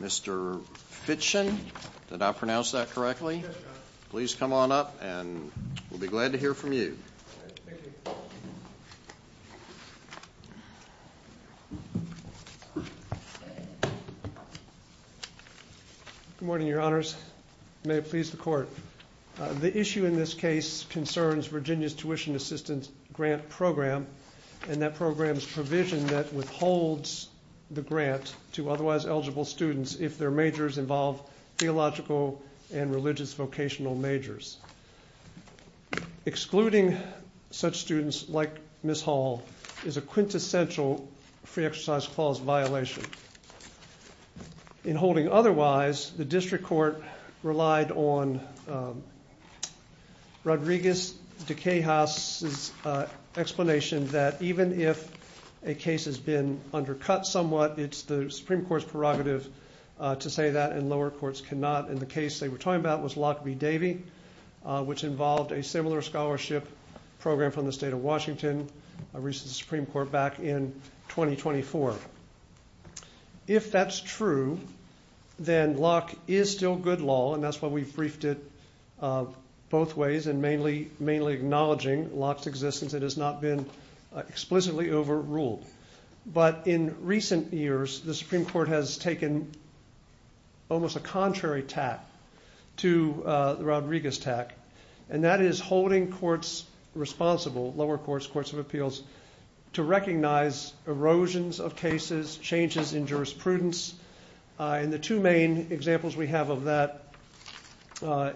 Mr. Fitchen, did I pronounce that correctly? Yes, Your Honor. Please come on up and we'll be glad to hear from you. Good morning, Your Honors. May it please the Court. The issue in this case concerns Virginia's tuition assistance grant program and that program's provision that withholds the grant to otherwise eligible students if their majors involve theological and religious vocational majors. Excluding such students like Ms. Hall is a quintessential free exercise clause violation. In holding otherwise, the District Court relied on Rodriguez DeCahos' explanation that even if a case has been undercut somewhat, it's the Supreme Court's prerogative to say that and lower courts cannot. And the case they were talking about was Locke v. Davey, which involved a similar scholarship program from the state of Washington. It reached the Supreme Court back in 2024. If that's true, then Locke is still good law and that's why we briefed it both ways and mainly acknowledging Locke's existence. It has not been explicitly overruled. But in recent years, the Supreme Court has taken almost a contrary tack to the Rodriguez tack, and that is holding courts responsible, lower courts, courts of appeals, to recognize erosions of cases, changes in jurisprudence. The two main examples we have of that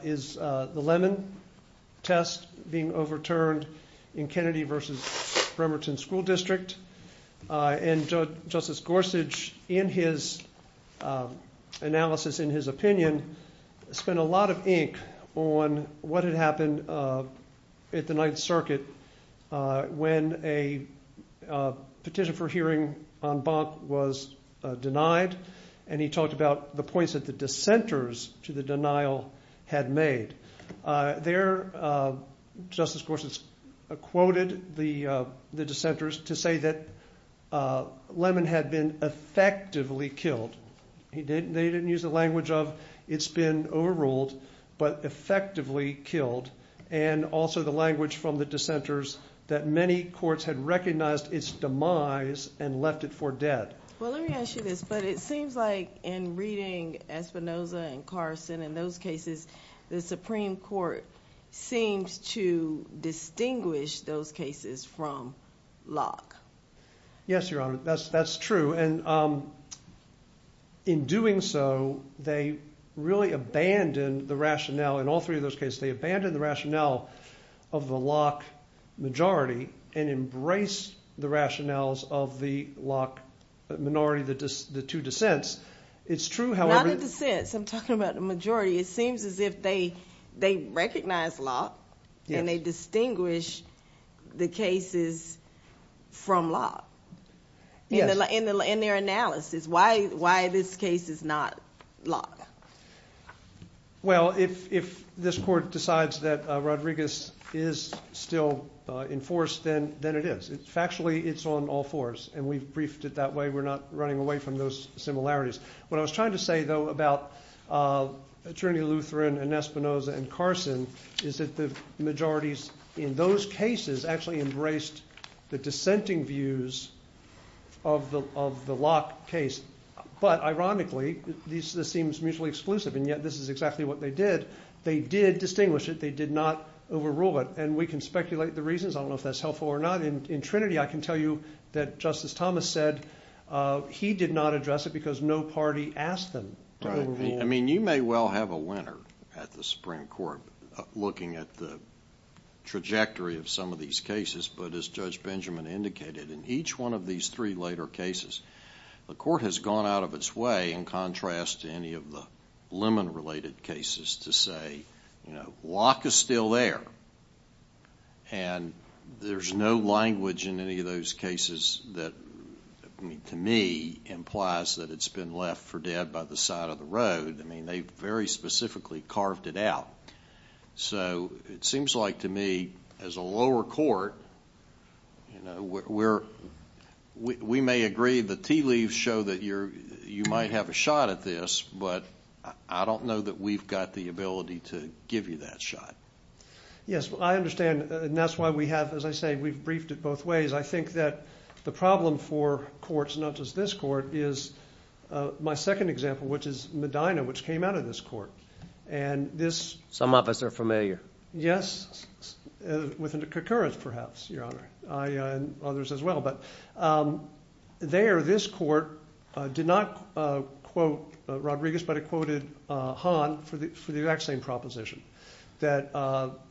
is the Lemon test being overturned in Kennedy v. Bremerton School District. Justice Gorsuch, in his analysis, in his opinion, spent a lot of ink on what had happened at the Ninth Circuit when a petition for hearing on Bonk was denied. He talked about the points that the dissenters to the denial had made. Justice Gorsuch quoted the dissenters to say that Lemon had been effectively killed. They didn't use the language of it's been overruled, but effectively killed, and also the language from the dissenters that many courts had recognized its demise and left it for dead. Well, let me ask you this, but it seems like in reading Espinoza and Carson and those cases, the Supreme Court seems to distinguish those cases from Locke. Yes, Your Honor, that's true. In doing so, they really abandoned the rationale, in all three of those cases, they abandoned the rationale of the Locke majority and embraced the rationales of the Locke minority, the two dissents. It's true, however... Not the dissents, I'm talking about the majority. It seems as if they recognize Locke and they distinguish the cases from Locke. In their analysis, why this case is not Locke? Well, if this court decides that Rodriguez is still in force, then it is. Factually, it's on all fours, and we've briefed it that way. We're not running away from those similarities. What I was trying to say, though, about Trinity Lutheran and Espinoza and Carson is that the majorities in those cases actually embraced the dissenting views of the Locke case, but ironically, this seems mutually exclusive, and yet this is exactly what they did. They did distinguish it. They did not overrule it, and we can speculate the reasons. I don't want to tell you that Justice Thomas said he did not address it because no party asked them to overrule it. Right. I mean, you may well have a winner at the Supreme Court looking at the trajectory of some of these cases, but as Judge Benjamin indicated, in each one of these three later cases, the court has gone out of its way, in contrast to any of the Lemon-related cases, to say, you know, Locke is still there, and there's no language in any of those cases that, to me, implies that it's been left for dead by the side of the road. I mean, they very specifically carved it out. So, it seems like, to me, as a lower court, you know, we may agree the tea leaves show that you might have a shot at this, but I don't know that we've got the ability to give you that shot. Yes, I understand, and that's why we have, as I say, we've briefed it both ways. I think that the problem for courts, not just this court, is my second example, which is Medina, which came out of this court. And this... Some of us are familiar. Yes, with concurrence, perhaps, Your Honor, and others as well. But there, this court did not quote Rodriguez, but it quoted Hahn for the vaccine proposition. That,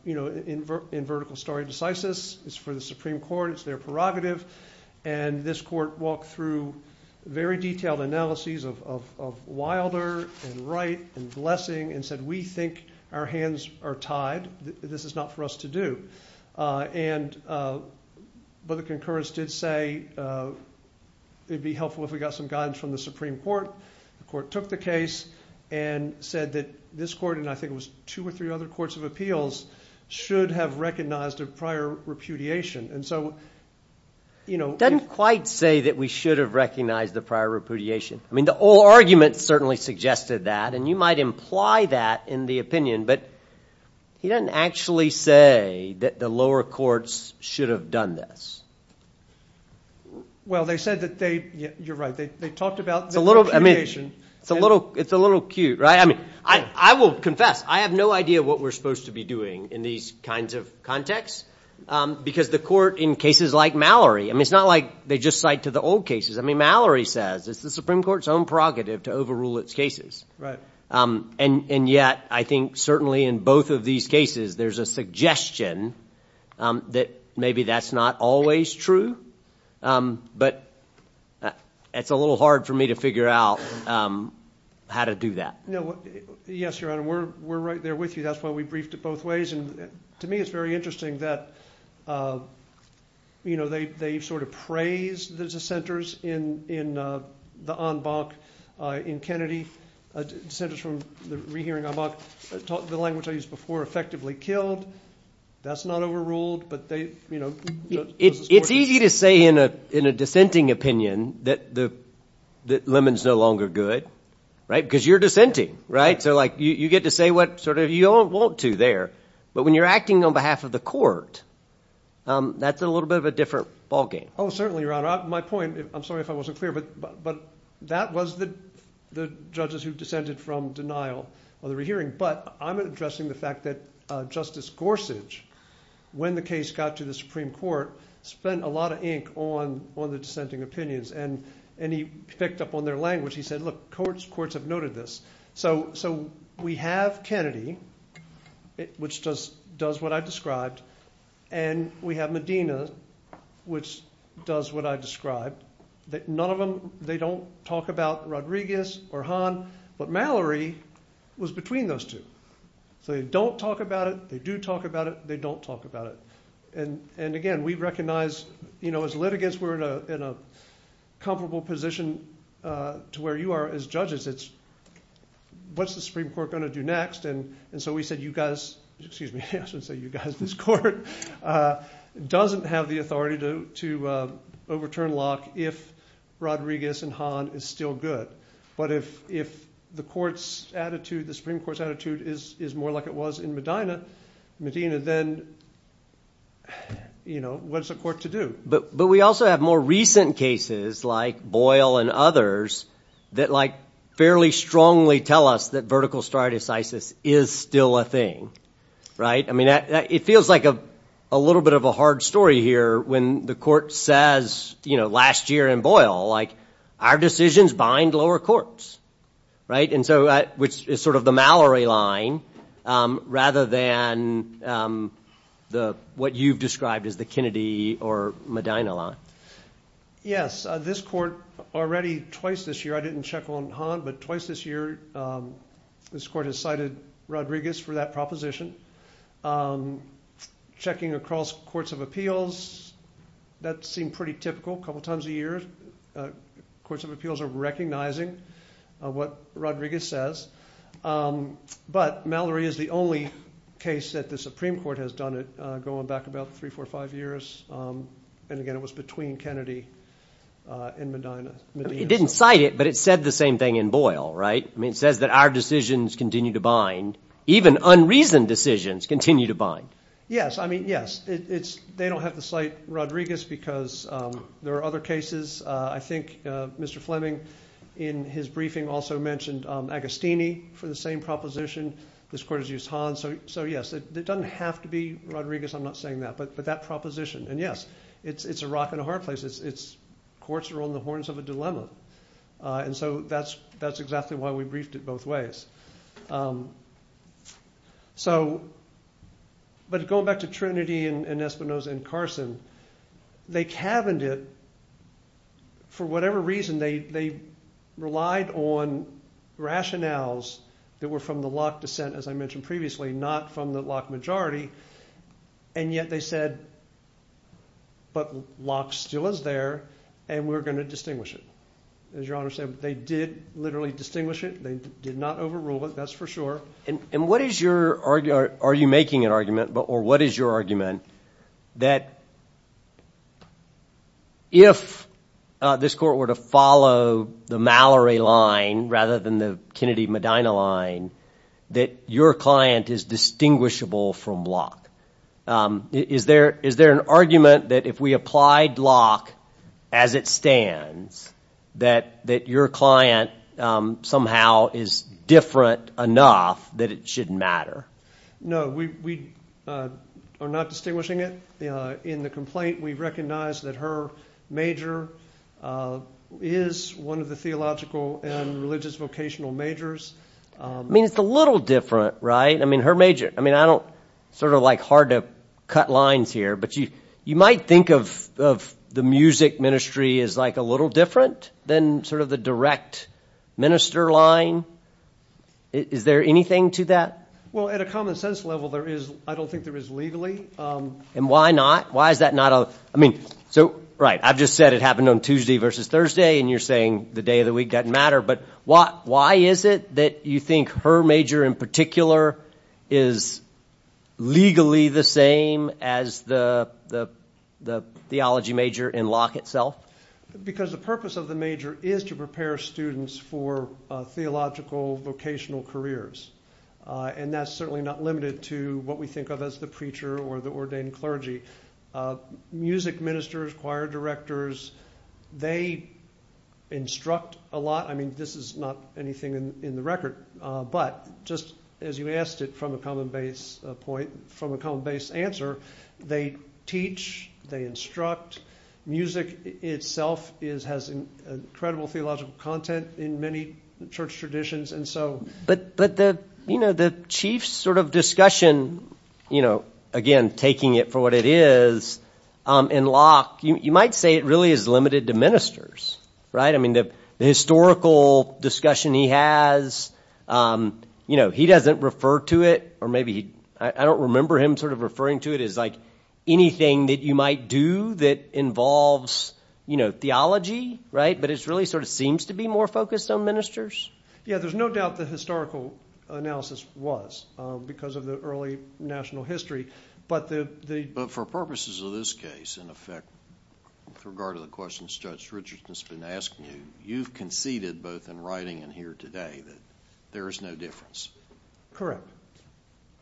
you know, in vertical stare decisis, it's for the Supreme Court, it's their prerogative, and this court walked through very detailed analyses of Wilder, and Wright, and Blessing, and said, we think our hands are tied, this is not for us to do. But the concurrence did say, it'd be helpful if we got some guidance from the Supreme Court. The court took the case and said that this court, and I think it was two or three other courts of appeals, should have recognized a prior repudiation. And so, you know... Doesn't quite say that we should have recognized a prior repudiation. I mean, the whole argument certainly suggested that, and you might imply that in the opinion, but he doesn't actually say that the lower courts should have done this. Well, they said that they, you're right, they talked about the prior repudiation... It's a little, I mean, it's a little, it's a little cute, right? I mean, I will confess, I have no idea what we're supposed to be doing in these kinds of contexts, because the court in cases like Mallory, I mean, it's not like they just cite to the old cases. I mean, Mallory says, it's the Supreme Court's own prerogative to overrule its cases. Right. And yet, I think certainly in both of these cases, there's a suggestion that maybe that's not always true. But it's a little hard for me to figure out how to do that. No, yes, Your Honor, we're right there with you. That's why we briefed it both ways. And to me, it's very interesting that, you know, they sort of praise the dissenters in the en banc in Kennedy, dissenters from the rehearing en banc, the language I used before, effectively killed. That's not overruled, but they, you know, It's easy to say in a dissenting opinion that Lemon's no longer good, right? Because you're dissenting, right? So like, you get to say what sort of, you don't want to there. But when you're acting on behalf of the court, that's a little bit of a different ballgame. Oh, certainly, Your Honor. My point, I'm sorry if I wasn't clear, but that was the judges who dissented from denial of the rehearing. But I'm addressing the fact that Justice Gorsuch, when the case got to the Supreme Court, spent a lot of ink on the dissenting opinions. And he picked up on their language. He said, look, courts have noted this. So we have Kennedy, which does what I described, and we have Medina, which does what I described. None of them, they don't talk about Rodriguez or Hahn, but Mallory was between those two. So they don't talk about it, they do talk about it, they don't talk about it. And again, we recognize, you know, as litigants, we're in a comfortable position to where you are as judges. It's what's the Supreme Court going to do next? And so we said, you guys, excuse me, I should say you guys, this court doesn't have the authority to overturn Locke if Rodriguez and Hahn is still good. But if the Supreme Court's attitude is more like it was in Medina, then you know, what's the court to do? But we also have more recent cases like Boyle and others that like fairly strongly tell us that vertical stare decisis is still a thing, right? I mean, it feels like a little bit of a hard story here when the court says, you know, last year in Boyle, like our decisions bind lower courts, right? And so, which is sort of the Mallory line rather than the, what you've described as the Kennedy or Medina line. Yes, this court already twice this year, I didn't check on Hahn, but twice this year, this court has cited Rodriguez for that proposition. Checking across courts of appeals, that seemed pretty typical, a couple times a year, courts of appeals are recognizing what Rodriguez says. But Mallory is the only case that the Supreme Court has done it going back about three, four, five years. And again, it was between Kennedy and Medina. It didn't cite it, but it said the same thing in Boyle, right? I mean, it says that our decisions continue to bind, even unreasoned decisions continue to bind. Yes, I mean, yes, it's, they don't have to cite Rodriguez because there are other cases. I think Mr. Fleming in his briefing also mentioned Agostini for the same proposition. This court has used Hahn, so yes, it doesn't have to be Rodriguez, I'm not saying that, but that proposition, and yes, it's a rock and a hard place. Courts are on the horns of a dilemma. And so that's exactly why we briefed it both ways. So, but going back to Trinity and Espinoza and Carson, they caverned it, for whatever reason, they relied on rationales that were from the Locke descent, as I mentioned previously, not from the Locke majority, and yet they said, but Locke still is there, and we're going to distinguish it. As your Honor said, they did literally distinguish it, they did not overrule it, that's for sure. And what is your, are you making an argument, or what is your argument, that if this court were to follow the Mallory line rather than the Kennedy-Medina line, that your client is distinguishable from Locke? Is there an argument that if we applied Locke as it stands, that your client somehow is different enough that it shouldn't matter? No, we are not distinguishing it. In the complaint, we recognize that her major is one of the theological and religious vocational majors. I mean, it's a little different, right? I mean, her major, I mean, I don't, it's sort of like hard to cut lines here, but you might think of the music ministry as like a little different than sort of the direct minister line. Is there anything to that? Well, at a common sense level, there is, I don't think there is legally. And why not? Why is that not a, I mean, so, right, I've just said it happened on Tuesday versus Thursday, and you're saying the day of the week doesn't matter, but why is it that you think her major in particular is legally the same as the theology major in Locke itself? Because the purpose of the major is to prepare students for theological vocational careers. And that's certainly not limited to what we think of as the preacher or the ordained clergy. Music ministers, choir directors, they instruct a lot. I mean, this is not anything in the record, but just as you asked it from a common base point, from a common base answer, they teach, they instruct. Music itself has incredible theological content in many church traditions. But the chief sort of discussion, you know, again, taking it for what it is, in Locke, you might say it really is limited to ministers, right? I mean, the historical discussion he has, you know, he doesn't refer to it, or maybe I don't remember him sort of referring to it as like anything that you might do that involves, you know, theology, right, but it really sort of seems to be more focused on ministers. Yeah, there's no doubt the historical analysis was because of the early national history. But for purposes of this case, in effect, with regard to the questions Judge Richardson has been asking you, you've conceded both in writing and here today that there is no difference. Correct.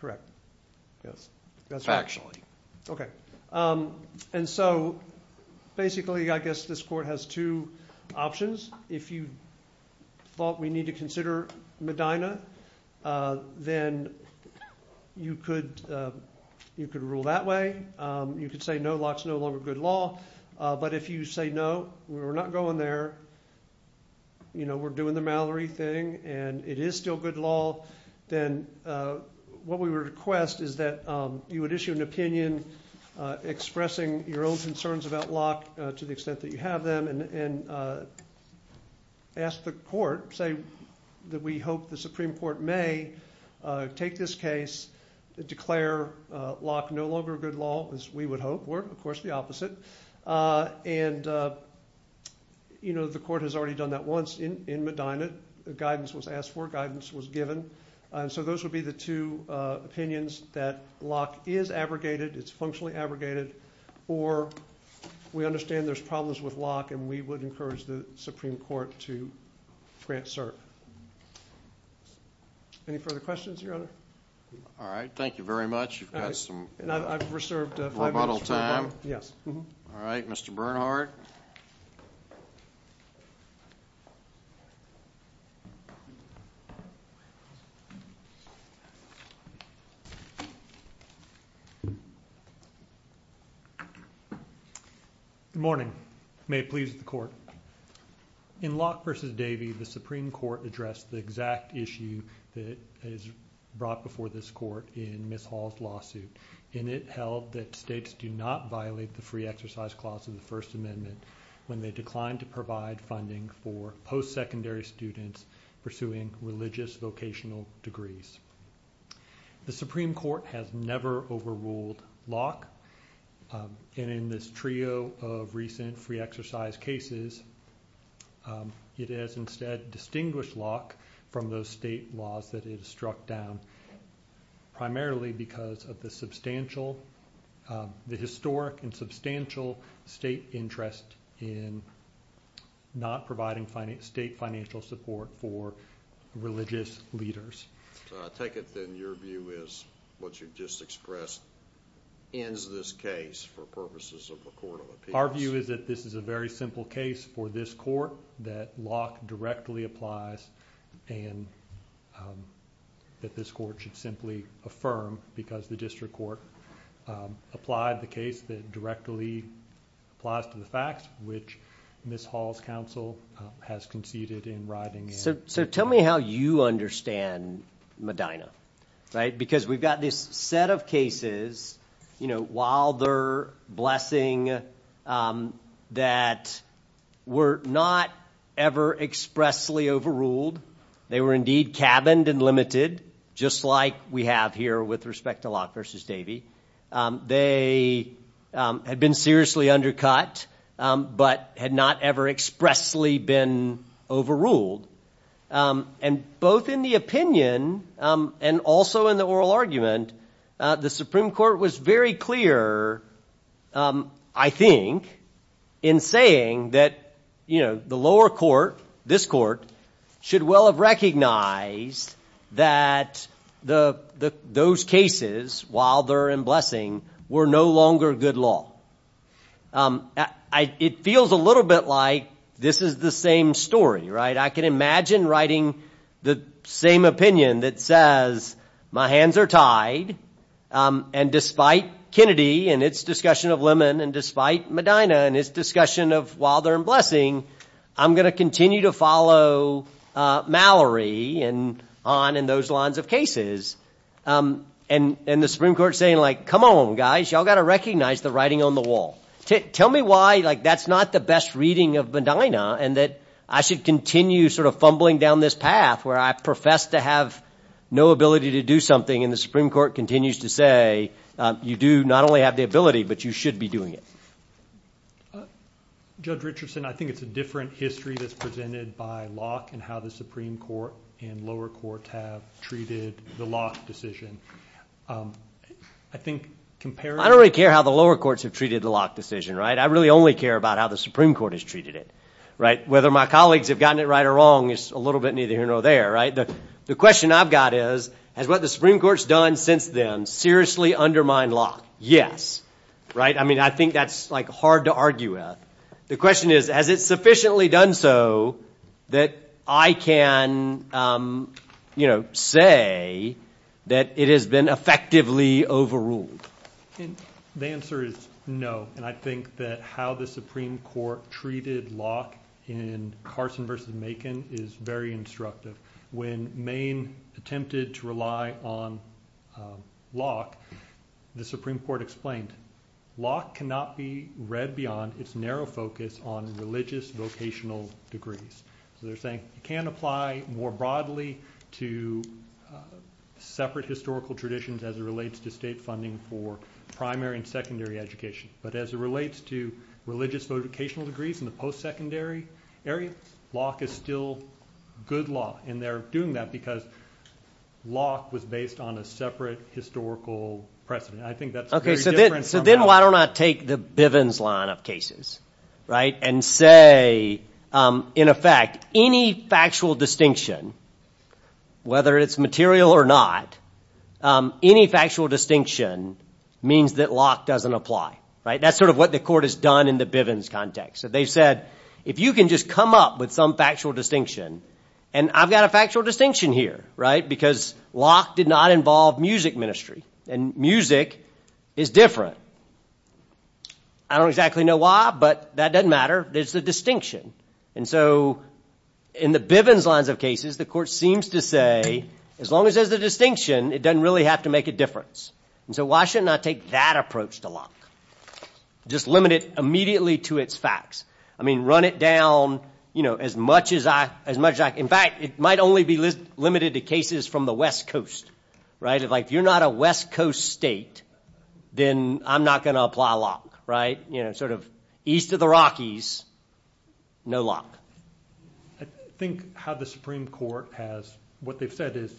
Correct. Yes. Factually. Okay. And so basically I guess this court has two options. If you thought we need to consider Medina, then you could rule that way. You could say no, Locke's no longer good law. But if you say no, we're not going there, you know, we're doing the Mallory thing, and it is still good law, then what we request is that you would issue an opinion expressing your own concerns about Locke to the extent that you have them and ask the court, say that we hope the Supreme Court may take this case, declare Locke no longer good law, as we would hope, or of course the opposite. And, you know, the court has already done that once in Medina. Guidance was asked for, guidance was given. So those would be the two opinions that Locke is abrogated, it's functionally abrogated, or we understand there's problems with Locke and we would encourage the Supreme Court to grant cert. Any further questions, Your Honor? All right. Thank you very much. You've got some rebuttal time. All right, Mr. Bernhardt. Good morning. May it please the Court. In Locke v. Davey, the Supreme Court addressed the exact issue that is brought before this court in Ms. Hall's lawsuit, and it held that states do not violate the free exercise clause of the First Amendment when they decline to provide funding for post-secondary students pursuing religious vocational degrees. The Supreme Court has never overruled Locke, and in this trio of recent free exercise cases, it has instead distinguished Locke from those state laws that it has struck down, primarily because of the substantial, the historic and substantial state interest in not providing state financial support for religious leaders. I take it then your view is what you've just expressed ends this case for purposes of a court of appeals. Our view is that this is a very simple case for this court, that Locke directly applies, and that this court should simply affirm because the district court applied the case that directly applies to the facts, which Ms. Hall's counsel has conceded in writing. So tell me how you understand Medina, right, because we've got this set of cases, you know, blessing that were not ever expressly overruled. They were indeed cabined and limited, just like we have here with respect to Locke versus Davey. They had been seriously undercut, but had not ever expressly been overruled. And both in the opinion and also in the oral argument, the Supreme Court was very clear, I think, in saying that the lower court, this court, should well have recognized that those cases, while they're in blessing, were no longer good law. It feels a little bit like this is the same story, right? I can imagine writing the same opinion that says, my hands are tied, and despite Kennedy and its discussion of Lemon and despite Medina and its discussion of while they're in blessing, I'm going to continue to follow Mallory on in those lines of cases. And the Supreme Court saying, like, come on, guys, y'all got to recognize the writing on the wall. Tell me why, like, that's not the best reading of Medina, and that I should continue sort of fumbling down this path where I profess to have no ability to do something. And the Supreme Court continues to say, you do not only have the ability, but you should be doing it. Judge Richardson, I think it's a different history that's presented by Locke and how the Supreme Court and lower courts have treated the Locke decision. I don't really care how the lower courts have treated the Locke decision, right? I really only care about how the Supreme Court has treated it, right? Whether my colleagues have gotten it right or wrong is a little bit neither here nor there, right? The question I've got is, has what the Supreme Court's done since then seriously undermined Locke? Yes. Right? I mean, I think that's, like, hard to argue with. The question is, has it sufficiently done so that I can, you know, say that it has been effectively overruled? The answer is no, and I think that how the Supreme Court treated Locke in Carson v. Macon is very instructive. When Maine attempted to rely on Locke, the Supreme Court explained, Locke cannot be read beyond its narrow focus on religious vocational degrees. So they're saying it can apply more broadly to separate historical traditions as it relates to state funding for primary and secondary education. But as it relates to religious vocational degrees in the post-secondary area, Locke is still good law. And they're doing that because Locke was based on a separate historical precedent. I think that's very different from that. Okay, so then why don't I take the Bivens line of cases, right, and say, in effect, any factual distinction, whether it's material or not, any factual distinction means that Locke doesn't apply. Right? That's sort of what the court has done in the Bivens context. So they've said, if you can just come up with some factual distinction, and I've got a factual distinction here, right, because Locke did not involve music ministry, and music is different. I don't exactly know why, but that doesn't matter. It's the distinction. And so in the Bivens lines of cases, the court seems to say, as long as there's a distinction, it doesn't really have to make a difference. And so why shouldn't I take that approach to Locke, just limit it immediately to its facts? I mean, run it down, you know, as much as I can. In fact, it might only be limited to cases from the West Coast, right? If you're not a West Coast state, then I'm not going to apply Locke, right? You know, sort of east of the Rockies, no Locke. I think how the Supreme Court has, what they've said is,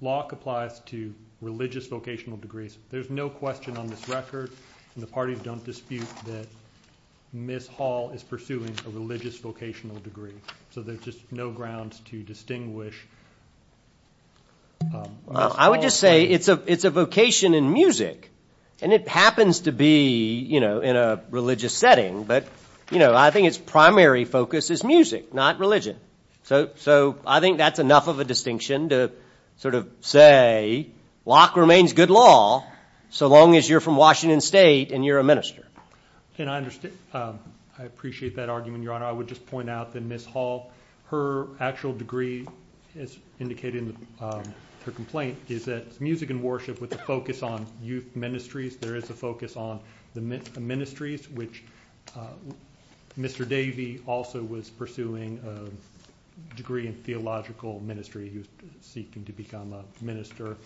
Locke applies to religious vocational degrees. There's no question on this record, and the parties don't dispute that Miss Hall is pursuing a religious vocational degree. So there's just no grounds to distinguish. I would just say it's a vocation in music, and it happens to be, you know, in a religious setting. But, you know, I think its primary focus is music, not religion. So I think that's enough of a distinction to sort of say Locke remains good law so long as you're from Washington State and you're a minister. And I appreciate that argument, Your Honor. I would just point out that Miss Hall, her actual degree, as indicated in her complaint, is that it's music and worship with a focus on youth ministries. There is a focus on the ministries, which Mr. Davey also was pursuing a degree in theological ministry. He was seeking to become a minister.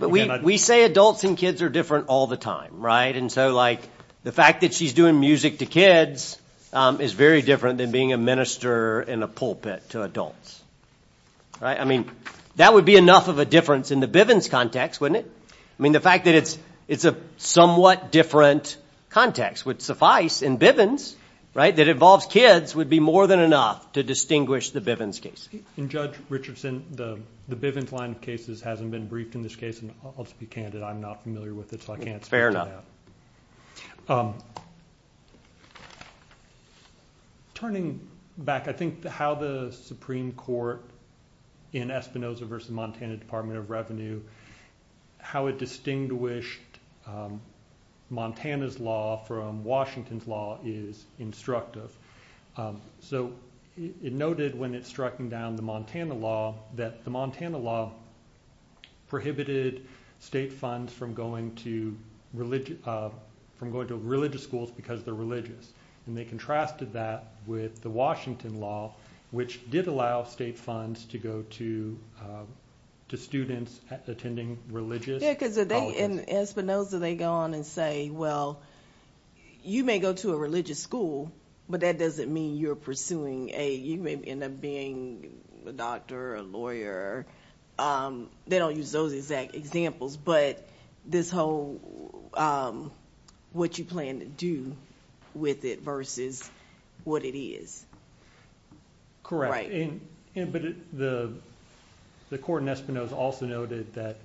We say adults and kids are different all the time, right? And so, like, the fact that she's doing music to kids is very different than being a minister in a pulpit to adults. Right? I mean, that would be enough of a difference in the Bivens context, wouldn't it? I mean, the fact that it's a somewhat different context would suffice in Bivens, right, that involves kids, would be more than enough to distinguish the Bivens case. And, Judge Richardson, the Bivens line of cases hasn't been briefed in this case, and I'll just be candid, I'm not familiar with it, so I can't speak to that. Turning back, I think how the Supreme Court in Espinoza v. Montana Department of Revenue, how it distinguished Montana's law from Washington's law is instructive. So, it noted when it struck down the Montana law that the Montana law prohibited state funds from going to religious schools because they're religious, and they contrasted that with the Washington law, which did allow state funds to go to students attending religious colleges. Yeah, because they, in Espinoza, they go on and say, well, you may go to a religious school, but that doesn't mean you're pursuing a, you may end up being a doctor or a lawyer. They don't use those exact examples, but this whole, what you plan to do with it versus what it is. Correct. But the court in Espinoza also noted that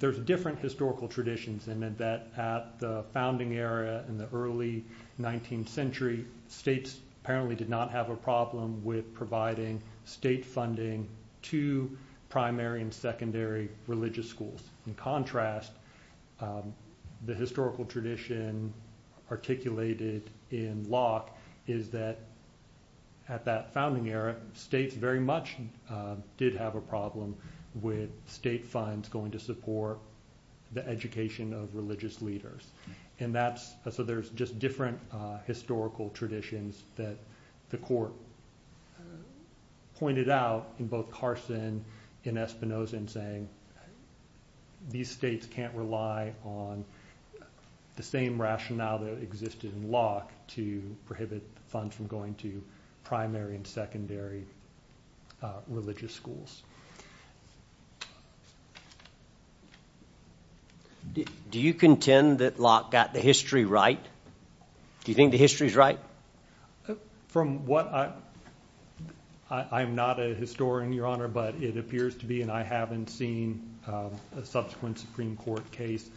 there's different historical traditions, and that at the founding era in the early 19th century, states apparently did not have a problem with providing state funding to primary and secondary religious schools. In contrast, the historical tradition articulated in Locke is that at that founding era, states very much did have a problem with state funds going to support the education of religious leaders. And that's, so there's just different historical traditions that the court pointed out in both Carson and Espinoza in saying these states can't rely on the same rationale that existed in Locke to prohibit funds from going to primary and secondary religious schools. Do you contend that Locke got the history right? Do you think the history is right? From what I, I am not a historian, Your Honor, but it appears to be, and I haven't seen a subsequent Supreme Court case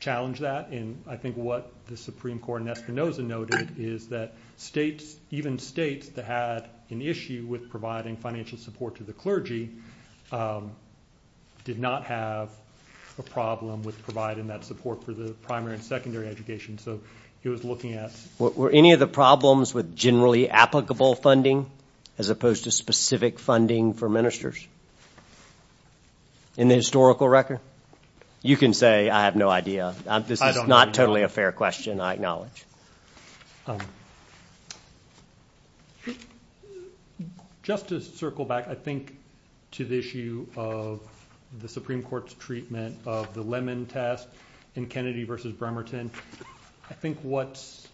challenge that. And I think what the Supreme Court in Espinoza noted is that states, even states that had an issue with providing financial support to the clergy, did not have a problem with providing that support for the primary and secondary education. So he was looking at. Were any of the problems with generally applicable funding as opposed to specific funding for ministers? In the historical record? You can say I have no idea. This is not totally a fair question, I acknowledge. Just to circle back, I think, to the issue of the Supreme Court's treatment of the Lemon Test in Kennedy v. Bremerton, I think what's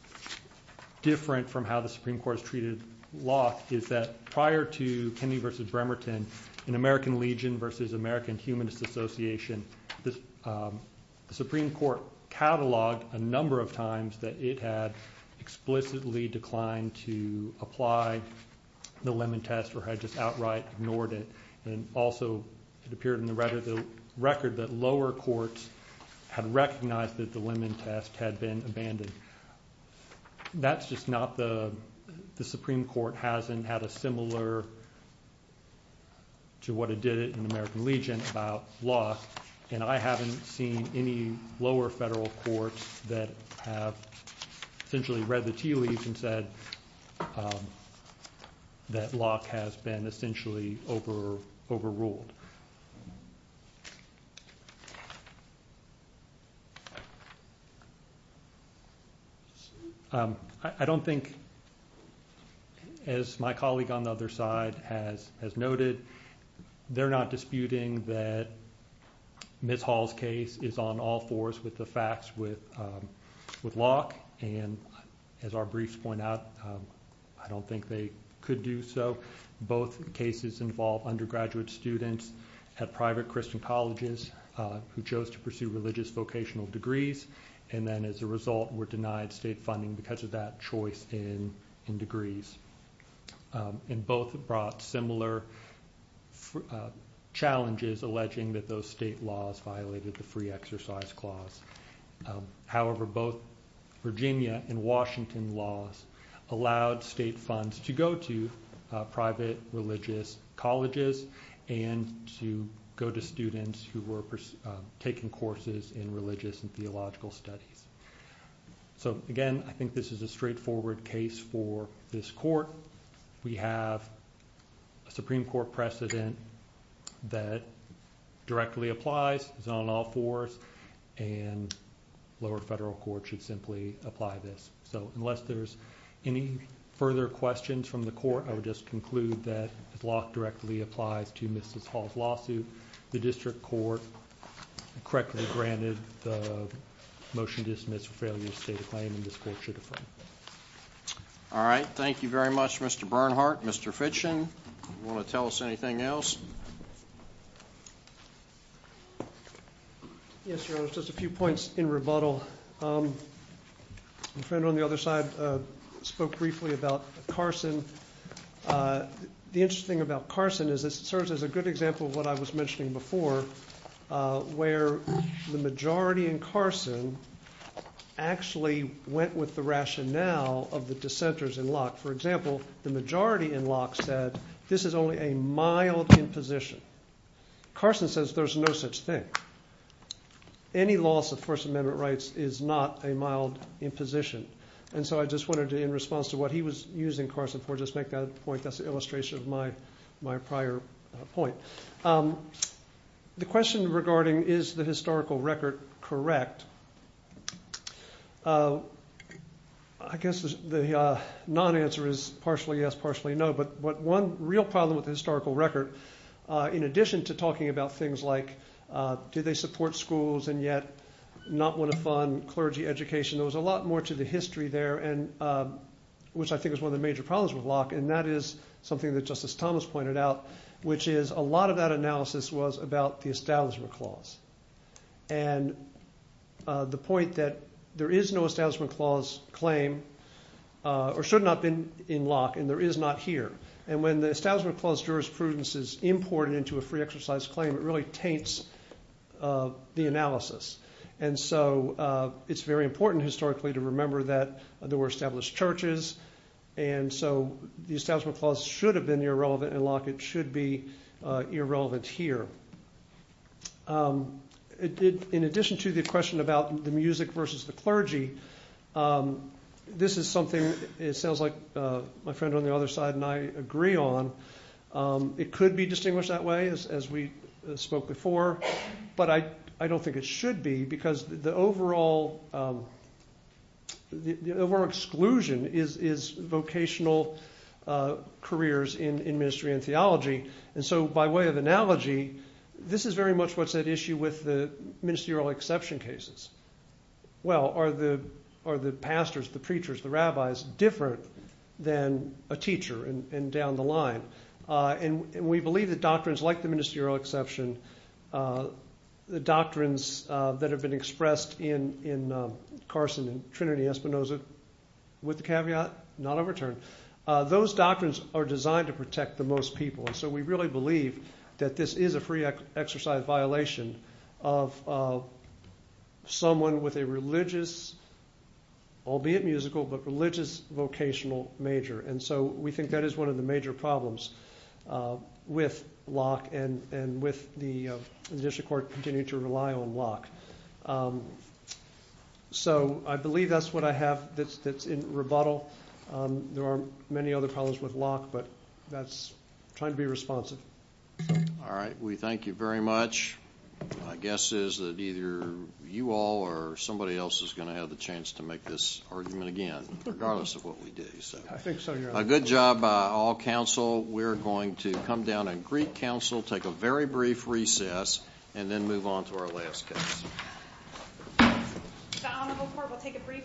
different from how the Supreme Court has treated Locke is that prior to Kennedy v. Bremerton, in American Legion v. American Humanist Association, the Supreme Court cataloged a number of times that it had explicitly declined to apply the Lemon Test or had just outright ignored it. And also, it appeared in the record that lower courts had recognized that the Lemon Test had been abandoned. That's just not the, the Supreme Court hasn't had a similar to what it did in American Legion about Locke, and I haven't seen any lower federal courts that have essentially read the tea leaves and said that Locke has been essentially overruled. I don't think, as my colleague on the other side has noted, they're not disputing that Ms. Hall's case is on all fours with the facts with Locke, and as our briefs point out, I don't think they could do so. Both cases involve undergraduate students at private Christian colleges who chose to pursue religious vocational degrees, and then as a result were denied state funding because of that choice in degrees. And both brought similar challenges alleging that those state laws violated the free exercise clause. However, both Virginia and Washington laws allowed state funds to go to private religious colleges and to go to students who were taking courses in religious and theological studies. So again, I think this is a straightforward case for this court. We have a Supreme Court precedent that directly applies, is on all fours, and lower federal courts should simply apply this. So unless there's any further questions from the court, I would just conclude that as Locke directly applies to Ms. Hall's lawsuit, the district court correctly granted the motion dismissed for failure to state a claim, and this court should affirm. All right. Thank you very much, Mr. Bernhardt. Mr. Fitchin, want to tell us anything else? Yes, Your Honor, just a few points in rebuttal. The friend on the other side spoke briefly about Carson. The interesting thing about Carson is it serves as a good example of what I was mentioning before, where the majority in Carson actually went with the rationale of the dissenters in Locke. For example, the majority in Locke said this is only a mild imposition. Carson says there's no such thing. Any loss of First Amendment rights is not a mild imposition, and so I just wanted to, in response to what he was using Carson for, just make that a point. That's an illustration of my prior point. The question regarding is the historical record correct, I guess the non-answer is partially yes, partially no, but one real problem with the historical record, in addition to talking about things like do they support schools and yet not want to fund clergy education, there was a lot more to the history there, which I think is one of the major problems with Locke, and that is something that Justice Thomas pointed out, which is a lot of that analysis was about the Establishment Clause. And the point that there is no Establishment Clause claim or should not have been in Locke, and there is not here. And when the Establishment Clause jurisprudence is imported into a free exercise claim, it really taints the analysis. And so it's very important historically to remember that there were established churches, and so the Establishment Clause should have been irrelevant in Locke. It should be irrelevant here. In addition to the question about the music versus the clergy, this is something it sounds like my friend on the other side and I agree on. It could be distinguished that way, as we spoke before, but I don't think it should be because the overall exclusion is vocational careers in ministry and theology. And so by way of analogy, this is very much what's at issue with the ministerial exception cases. Well, are the pastors, the preachers, the rabbis different than a teacher and down the line? And we believe that doctrines like the ministerial exception, the doctrines that have been expressed in Carson and Trinity Espinoza, with the caveat, not overturned, those doctrines are designed to protect the most people. And so we really believe that this is a free exercise violation of someone with a religious, albeit musical, but religious vocational major. And so we think that is one of the major problems with Locke and with the District Court continuing to rely on Locke. So I believe that's what I have that's in rebuttal. There are many other problems with Locke, but that's trying to be responsive. All right. We thank you very much. My guess is that either you all or somebody else is going to have the chance to make this argument again, regardless of what we do. I think so, Your Honor. Good job, all counsel. We're going to come down and greet counsel, take a very brief recess, and then move on to our last case. The Honorable Court will take a brief recess.